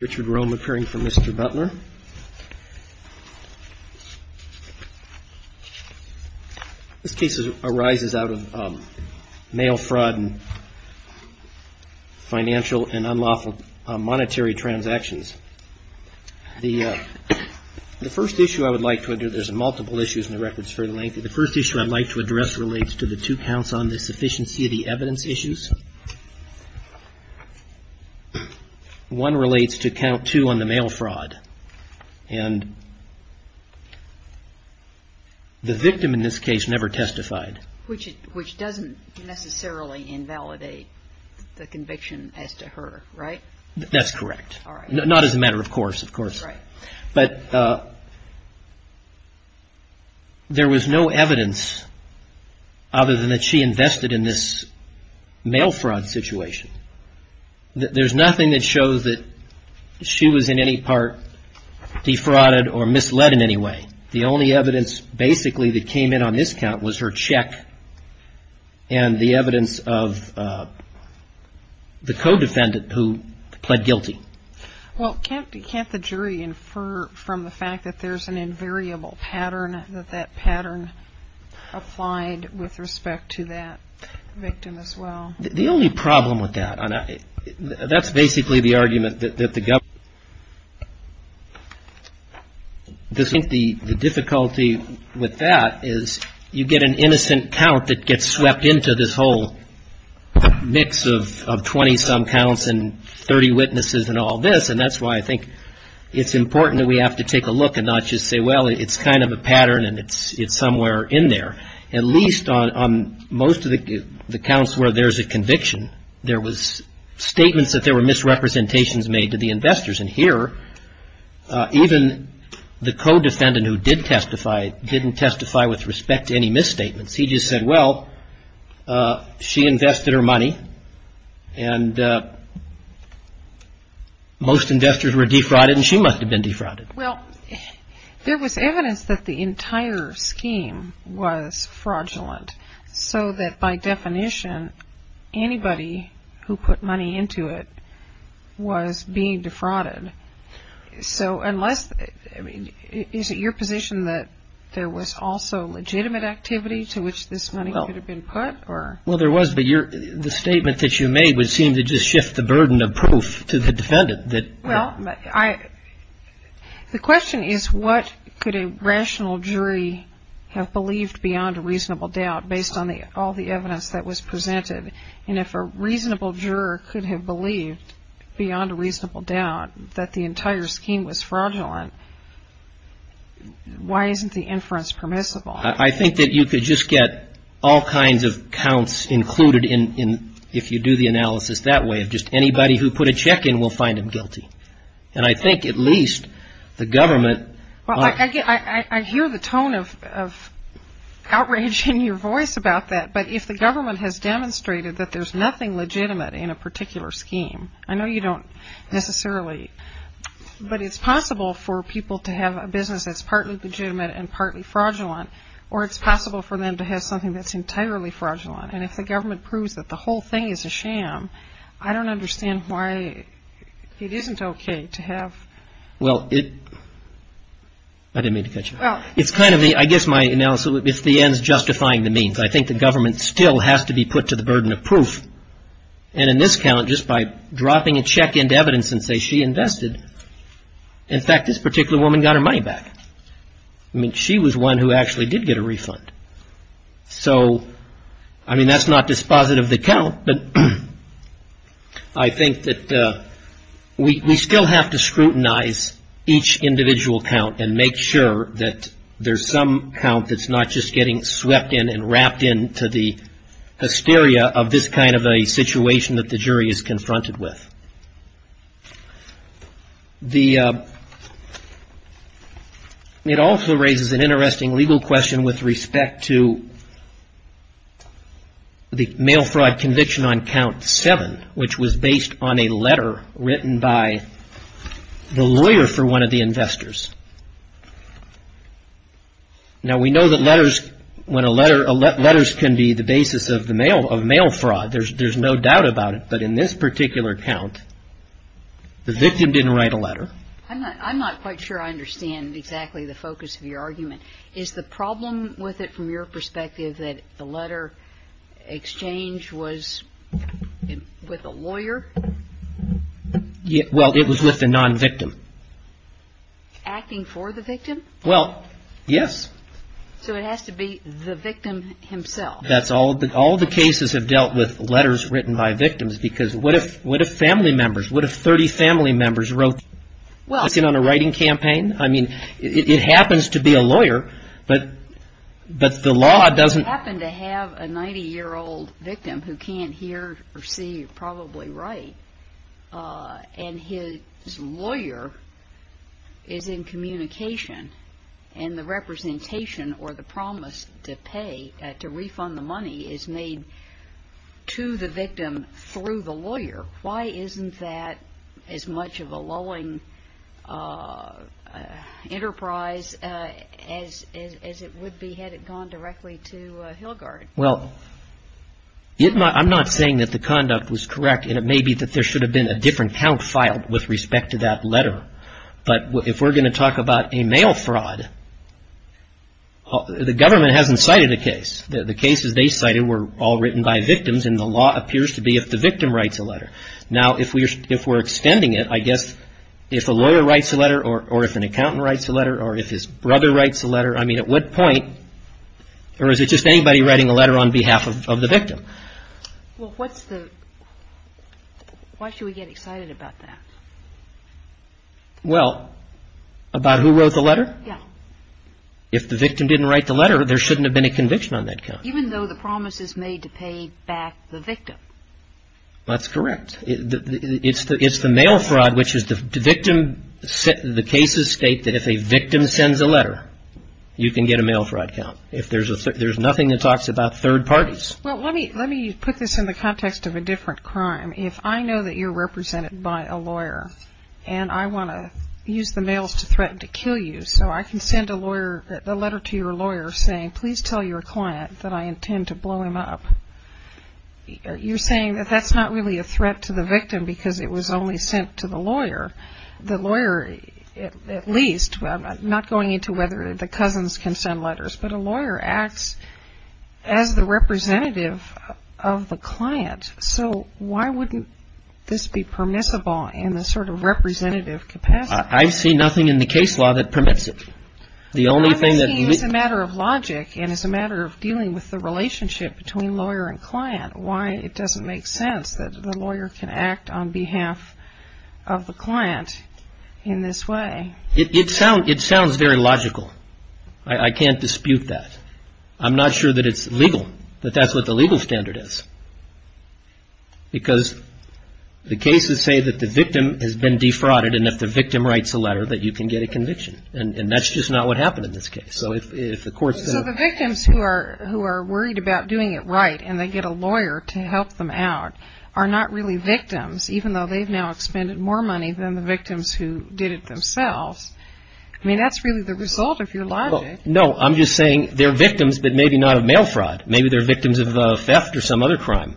This case arises out of mail fraud and financial and unlawful monetary transactions. The first issue I would like to address relates to the two counts on the sufficiency of the evidence issues. One relates to count two on the mail fraud and the victim in this case never testified. Which doesn't necessarily invalidate the conviction as to her, right? That's correct. Not as a matter of course, of course. But there was no evidence other than that she invested in this mail fraud situation. There's nothing that shows that she was in any part defrauded or misled in any way. The only evidence basically that came in on this count was her check and the evidence of the co-defendant who pled guilty. Well, can't the jury infer from the fact that there's an invariable pattern, that that pattern applied with respect to that victim as well? The only problem with that, that's basically the argument that the government The difficulty with that is you get an innocent count that gets swept into this whole mix of 20 some counts and 30 witnesses and all this, and that's why I think it's important that we have to take a look and not just say, well, it's kind of a pattern and it's somewhere in there. At least on most of the counts where there's a conviction, there was statements that there were misrepresentations made to the investors. And here, even the co-defendant who did testify, didn't testify with respect to any misstatements. He just said, well, she invested her money and most investors were defrauded and she must have been defrauded. Well, there was evidence that the entire scheme was fraudulent, so that by definition, anybody who put money into it was being defrauded. So unless, I mean, is it your position that there was also legitimate activity to which this money could have been put? Well, there was, but the statement that you made would seem to just shift the burden of proof to the defendant. Well, the question is, what could a rational jury have believed beyond a reasonable doubt based on all the evidence that was presented? And if a reasonable juror could have believed beyond a reasonable doubt that the entire scheme was fraudulent, why isn't the inference permissible? I think that you could just get all kinds of counts included in, if you do the analysis that way, of just anybody who put a check in will find him guilty. And I think at least the government... Well, I hear the tone of outrage in your voice about that, but if the government has demonstrated that there's nothing legitimate in a particular scheme, I know you don't necessarily, but it's possible for people to have a business that's partly legitimate and partly fraudulent, or it's possible for them to have something that's entirely fraudulent. And if the government proves that the whole thing is a sham, I don't understand why it isn't okay to have... Well, I didn't mean to cut you off. It's kind of the, I guess my analysis, it's the ends justifying the means. I think the government still has to be put to the burden of proof. And in this count, just by dropping a check into evidence and say she invested, in fact, this particular woman got her money back. I mean, she was one who actually did get a refund. So, I mean, that's not dispositive of the count, but I think that we still have to scrutinize each individual count and make sure that there's some count that's not just getting swept in and wrapped into the hysteria of this kind of a situation that the jury is confronted with. It also raises an interesting legal question with respect to the mail fraud conviction on count seven, which was based on a letter written by the lawyer for one of the investors. Now, we know that letters can be the basis of mail fraud. There's no doubt about it, but in this particular count, the victim didn't write a letter. I'm not quite sure I understand exactly the focus of your argument. Is the problem with it, from your perspective, that the letter exchange was with a lawyer? Well, it was with the non-victim. Acting for the victim? Well, yes. So it has to be the victim himself. All the cases have dealt with letters written by victims, because what if family members, what if 30 family members wrote a letter on a writing campaign? I mean, it happens to be a lawyer, but the law doesn't... I happen to have a 90-year-old victim who can't hear or see or probably write, and his lawyer is in communication, and the representation or the promise to pay, to refund the money, is made to the victim through the lawyer. Why isn't that as much of a lulling enterprise as it would be had it gone directly to Hilgard? Well, I'm not saying that the conduct was correct, and it may be that there should have been a different count filed with respect to that letter. But if we're going to talk about a mail fraud, the government hasn't cited a case. The cases they cited were all written by victims, and the law appears to be if the victim writes a letter. Now, if we're extending it, I guess if a lawyer writes a letter or if an accountant writes a letter or if his brother writes a letter, I mean, at what point... Or is it just anybody writing a letter on behalf of the victim? Well, what's the... Why should we get excited about that? Well, about who wrote the letter? Yeah. If the victim didn't write the letter, there shouldn't have been a conviction on that count. Even though the promise is made to pay back the victim. That's correct. It's the mail fraud, which is the victim... The cases state that if a victim sends a letter, you can get a mail fraud count. If there's a third... There's nothing that talks about third parties. Well, let me put this in the context of a different crime. If I know that you're represented by a lawyer and I want to use the mails to threaten to kill you, so I can send a letter to your lawyer saying, please tell your client that I intend to blow him up. You're saying that that's not really a threat to the victim because it was only sent to the lawyer. The lawyer, at least, I'm not going into whether the cousins can send letters, but a lawyer acts as the representative of the client. So why wouldn't this be permissible in the sort of representative capacity? I see nothing in the case law that permits it. The only thing that... I'm saying it's a matter of logic and it's a matter of dealing with the relationship between lawyer and client. Why it doesn't make sense that the lawyer can act on behalf of the client in this way. It sounds very logical. I can't dispute that. I'm not sure that it's legal, that that's what the legal standard is. Because the cases say that the victim has been defrauded, and if the victim writes a letter, that you can get a conviction. And that's just not what happened in this case. So the victims who are worried about doing it right, and they get a lawyer to help them out, are not really victims, even though they've now expended more money than the victims who did it themselves. I mean, that's really the result of your logic. No, I'm just saying they're victims, but maybe not of mail fraud. Maybe they're victims of theft or some other crime.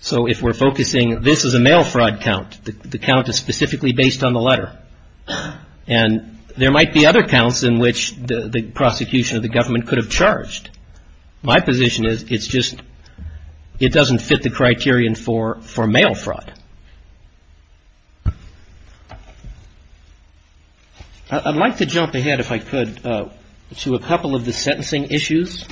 So if we're focusing, this is a mail fraud count, the count is specifically based on the letter. And there might be other counts in which the prosecution of the government could have charged. My position is it's just, it doesn't fit the criterion for mail fraud. I'd like to jump ahead, if I could, to a couple of the sentencing issues.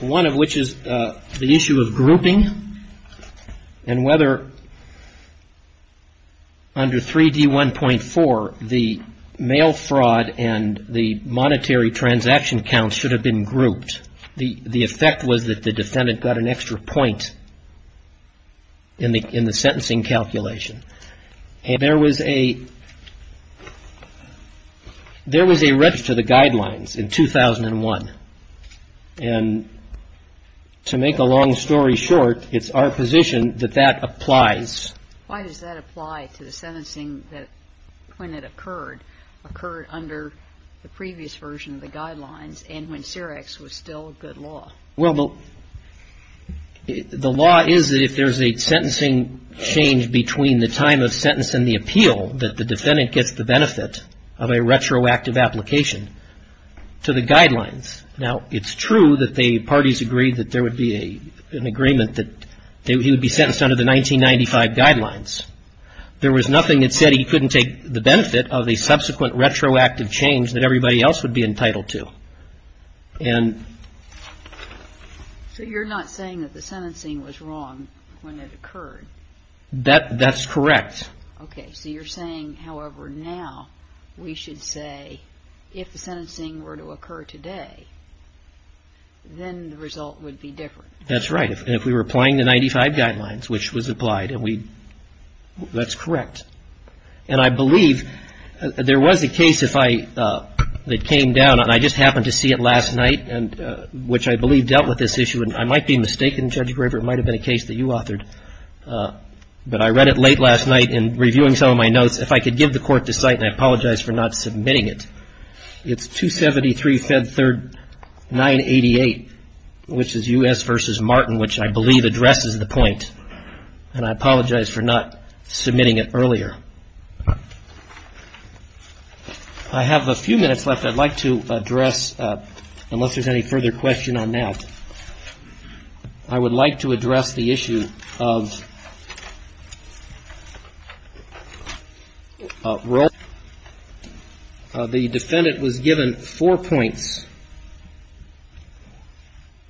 One of which is the issue of grouping. And whether under 3D1.4, the mail fraud and the monetary transaction counts should have been grouped. The effect was that the defendant got an extra point in the sentencing calculation. And there was a, there was a rip to the guidelines in 2001. And to make a long story short, it's our position that that applies. Why does that apply to the sentencing that, when it occurred, occurred under the previous version of the guidelines and when CEREX was still a good law? Well, the law is that if there's a sentencing change between the time of sentence and the appeal, that the defendant gets the benefit of a retroactive application to the guidelines. Now, it's true that the parties agreed that there would be an agreement that he would be sentenced under the 1995 guidelines. There was nothing that said he couldn't take the benefit of a subsequent retroactive change that everybody else would be entitled to. And. So you're not saying that the sentencing was wrong when it occurred? That's correct. Okay. So you're saying, however, now we should say if the sentencing were to occur today, then the result would be different. That's right. And if we were applying the 1995 guidelines, which was applied, and we, that's correct. And I believe there was a case if I, that came down, and I just happened to see it last night, and which I believe dealt with this issue. And I might be mistaken, Judge Graver, it might have been a case that you authored. But I read it late last night in reviewing some of my notes. If I could give the court the site, and I apologize for not submitting it. It's 273 Fed Third 988, which is U.S. v. Martin, which I believe addresses the point. And I apologize for not submitting it earlier. I have a few minutes left I'd like to address, unless there's any further question on that. I would like to address the issue of role. The defendant was given four points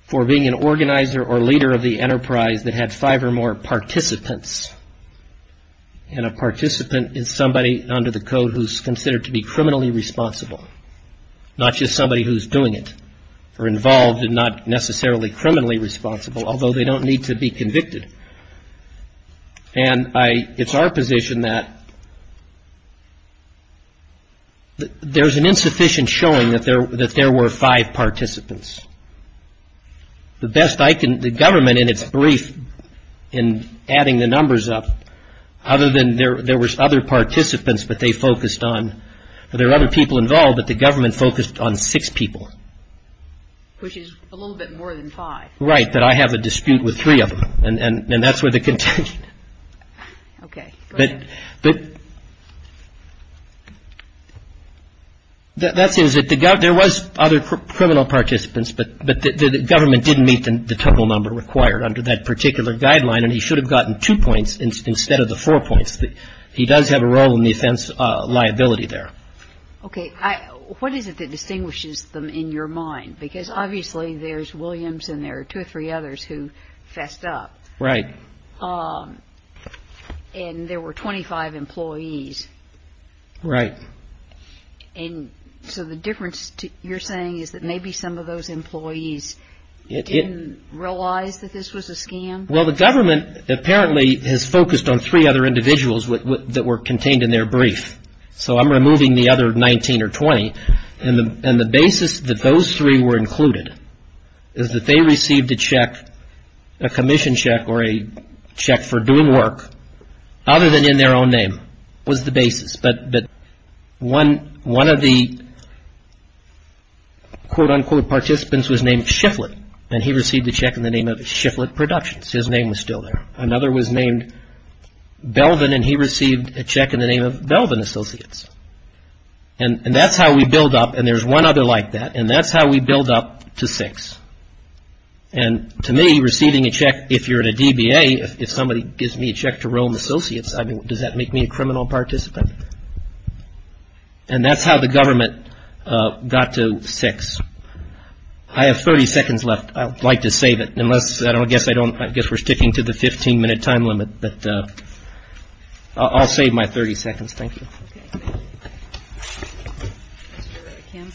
for being an organizer or leader of the enterprise that had five or more participants. And a participant is somebody under the code who's considered to be criminally responsible, not just somebody who's doing it, or involved and not necessarily criminally responsible, although they don't need to be convicted. And I, it's our position that there's an insufficient showing that there were five participants. The best I can, the government in its brief in adding the numbers up, other than there was other participants that they focused on. There were other people involved, but the government focused on six people. Which is a little bit more than five. Right, but I have a dispute with three of them, and that's where the contention. Okay, go ahead. That seems that the government, there was other criminal participants, but the government didn't meet the total number required under that particular guideline, and he should have gotten two points instead of the four points. He does have a role in the offense liability there. Okay, what is it that distinguishes them in your mind? Because obviously there's Williams and there are two or three others who fessed up. Right. And there were 25 employees. Right. And so the difference you're saying is that maybe some of those employees didn't realize that this was a scam? Well, the government apparently has focused on three other individuals that were contained in their brief. So I'm removing the other 19 or 20, and the basis that those three were included is that they received a check, a commission check or a check for doing work, other than in their own name, was the basis. But one of the quote-unquote participants was named Shifflett, and he received a check in the name of Shifflett Productions. His name was still there. Another was named Belvin, and he received a check in the name of Belvin Associates. And that's how we build up, and there's one other like that, and that's how we build up to six. And to me, receiving a check, if you're at a DBA, if somebody gives me a check to Rome Associates, I mean, does that make me a criminal participant? And that's how the government got to six. I have 30 seconds left. I would like to save it, unless, I don't guess I don't, I guess we're sticking to the 15-minute time limit. But I'll save my 30 seconds. Thank you. Okay. Mr. Kim.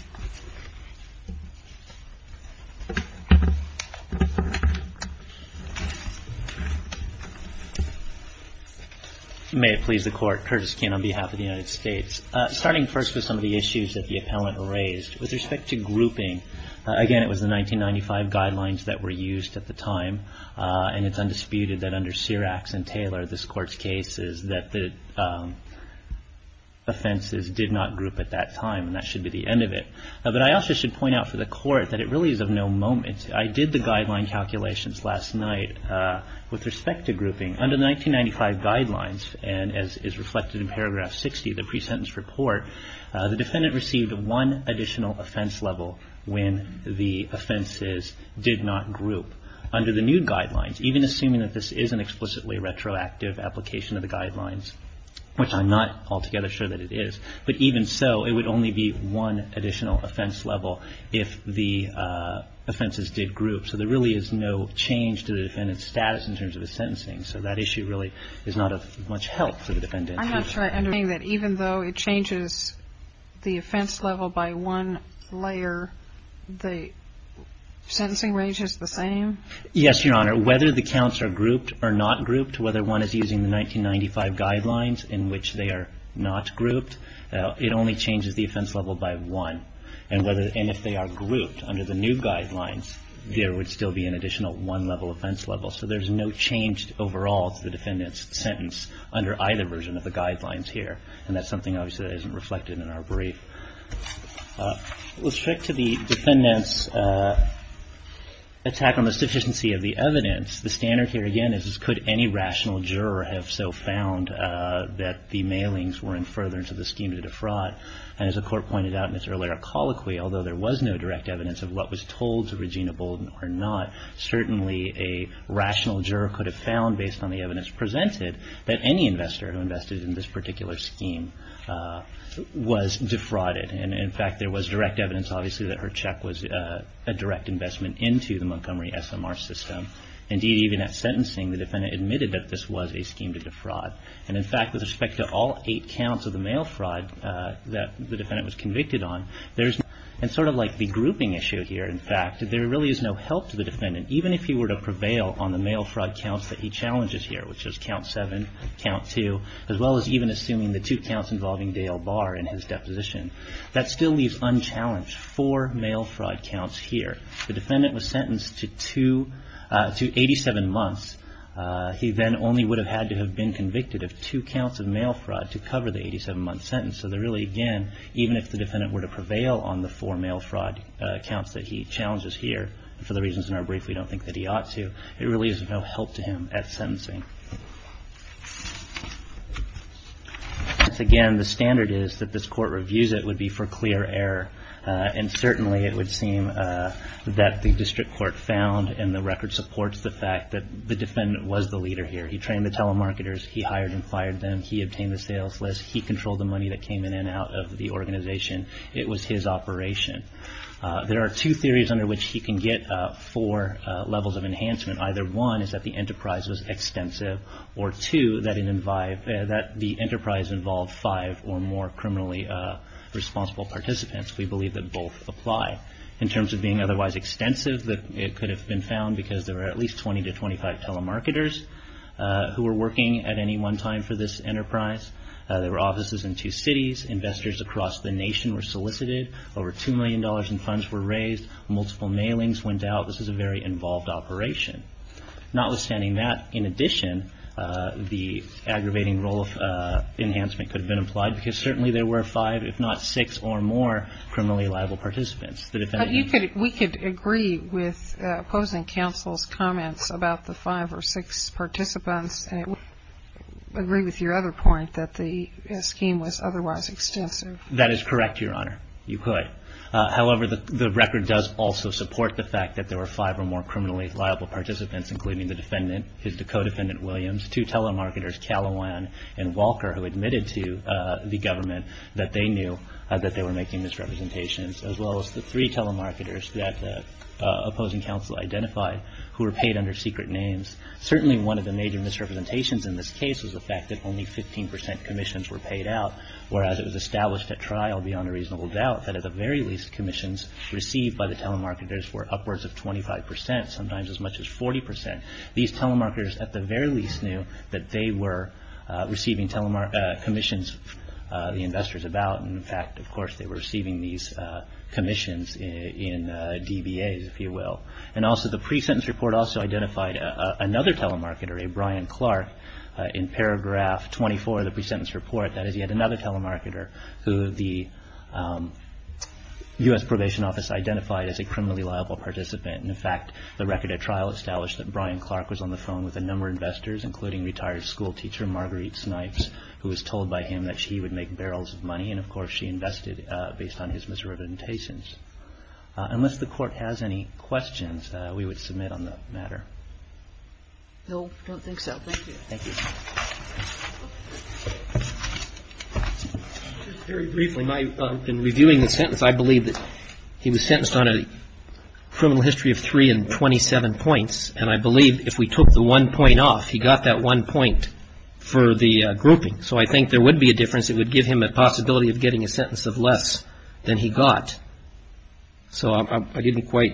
May it please the Court. Curtis Kim on behalf of the United States. Starting first with some of the issues that the appellant raised. With respect to grouping, again, it was the 1995 guidelines that were used at the time, and it's undisputed that under Serax and Taylor, this Court's case, is that the offenses did not group at that time, and that should be the end of it. But I also should point out for the Court that it really is of no moment. I did the guideline calculations last night with respect to grouping. Under the 1995 guidelines, and as is reflected in paragraph 60 of the pre-sentence report, the defendant received one additional offense level when the offenses did not group. Under the new guidelines, even assuming that this is an explicitly retroactive application of the guidelines, which I'm not altogether sure that it is, but even so, it would only be one additional offense level if the offenses did group. So there really is no change to the defendant's status in terms of his sentencing. So that issue really is not of much help to the defendant. I'm not sure I understand that. Even though it changes the offense level by one layer, the sentencing range is the same? Yes, Your Honor. Whether the counts are grouped or not grouped, whether one is using the 1995 guidelines in which they are not grouped, it only changes the offense level by one. And if they are grouped under the new guidelines, there would still be an additional one-level offense level. So there's no change overall to the defendant's sentence under either version of the guidelines here. And that's something, obviously, that isn't reflected in our brief. With respect to the defendant's attack on the sufficiency of the evidence, the standard here, again, is could any rational juror have so found that the mailings weren't further into the scheme to defraud? And as the Court pointed out in its earlier colloquy, although there was no direct evidence of what was told to Regina Bolden or not, certainly a rational juror could have found, based on the evidence presented, that any investor who invested in this particular scheme was defrauded. And, in fact, there was direct evidence, obviously, that her check was a direct investment into the Montgomery SMR system. Indeed, even at sentencing, the defendant admitted that this was a scheme to defraud. And, in fact, with respect to all eight counts of the mail fraud that the defendant was convicted on, and sort of like the grouping issue here, in fact, there really is no help to the defendant, even if he were to prevail on the mail fraud counts that he challenges here, which is count seven, count two, as well as even assuming the two counts involving Dale Barr in his deposition. That still leaves unchallenged four mail fraud counts here. The defendant was sentenced to 87 months. He then only would have had to have been convicted of two counts of mail fraud to cover the 87-month sentence. So, really, again, even if the defendant were to prevail on the four mail fraud counts that he challenges here, for the reasons in our brief we don't think that he ought to, it really is of no help to him at sentencing. Again, the standard is that this Court reviews it would be for clear error. And, certainly, it would seem that the District Court found, and the record supports the fact that the defendant was the leader here. He trained the telemarketers. He hired and fired them. He obtained the sales list. He controlled the money that came in and out of the organization. It was his operation. There are two theories under which he can get four levels of enhancement. Either one is that the enterprise was extensive, or two, that the enterprise involved five or more criminally responsible participants. We believe that both apply. In terms of being otherwise extensive, it could have been found because there were at least 20 to 25 telemarketers who were working at any one time for this enterprise. There were offices in two cities. Investors across the nation were solicited. Over $2 million in funds were raised. Multiple mailings went out. This was a very involved operation. Notwithstanding that, in addition, the aggravating role of enhancement could have been applied, because, certainly, there were five, if not six or more, criminally liable participants. The defendant needed them. But we could agree with opposing counsel's comments about the five or six participants, and it would agree with your other point that the scheme was otherwise extensive. That is correct, Your Honor. You could. However, the record does also support the fact that there were five or more criminally liable participants, including the defendant, his co-defendant, Williams, two telemarketers, Calawan, and Walker, who admitted to the government that they knew that they were making misrepresentations, as well as the three telemarketers that opposing counsel identified, who were paid under secret names. Certainly, one of the major misrepresentations in this case was the fact that only 15 percent commissions were paid out, whereas it was established at trial, beyond a reasonable doubt, that at the very least commissions received by the telemarketers were upwards of 25 percent, sometimes as much as 40 percent. These telemarketers, at the very least, knew that they were receiving commissions the investors about. In fact, of course, they were receiving these commissions in DBAs, if you will. And also, the pre-sentence report also identified another telemarketer, a Brian Clark, in paragraph 24 of the pre-sentence report. That is, he had another telemarketer, who the U.S. Probation Office identified as a criminally liable participant. And, in fact, the record at trial established that Brian Clark was on the phone with a number of investors, including retired schoolteacher Marguerite Snipes, who was told by him that she would make barrels of money. And, of course, she invested based on his misrepresentations. Unless the Court has any questions, we would submit on the matter. No, I don't think so. Thank you. Thank you. Just very briefly, in reviewing the sentence, I believe that he was sentenced on a criminal history of three and 27 points. And I believe if we took the one point off, he got that one point for the grouping. So I think there would be a difference. It would give him a possibility of getting a sentence of less than he got. So I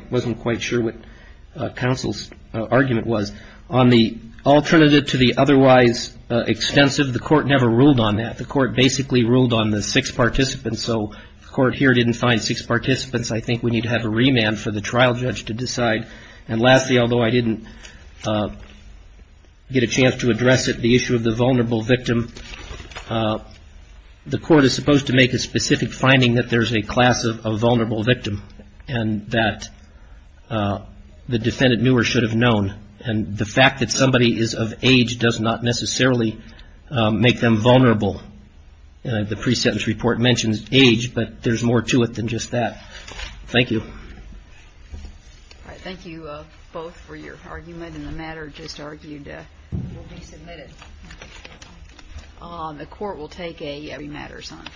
wasn't quite sure what counsel's argument was. On the alternative to the otherwise extensive, the Court never ruled on that. The Court basically ruled on the six participants. So the Court here didn't find six participants. I think we need to have a remand for the trial judge to decide. And lastly, although I didn't get a chance to address it, the issue of the vulnerable victim, the Court is supposed to make a specific finding that there's a class of vulnerable victim and that the defendant knew or should have known. And the fact that somebody is of age does not necessarily make them vulnerable. The pre-sentence report mentions age, but there's more to it than just that. Thank you. All right. Thank you both for your argument. And the matter just argued will be submitted. The Court will take a remand or something.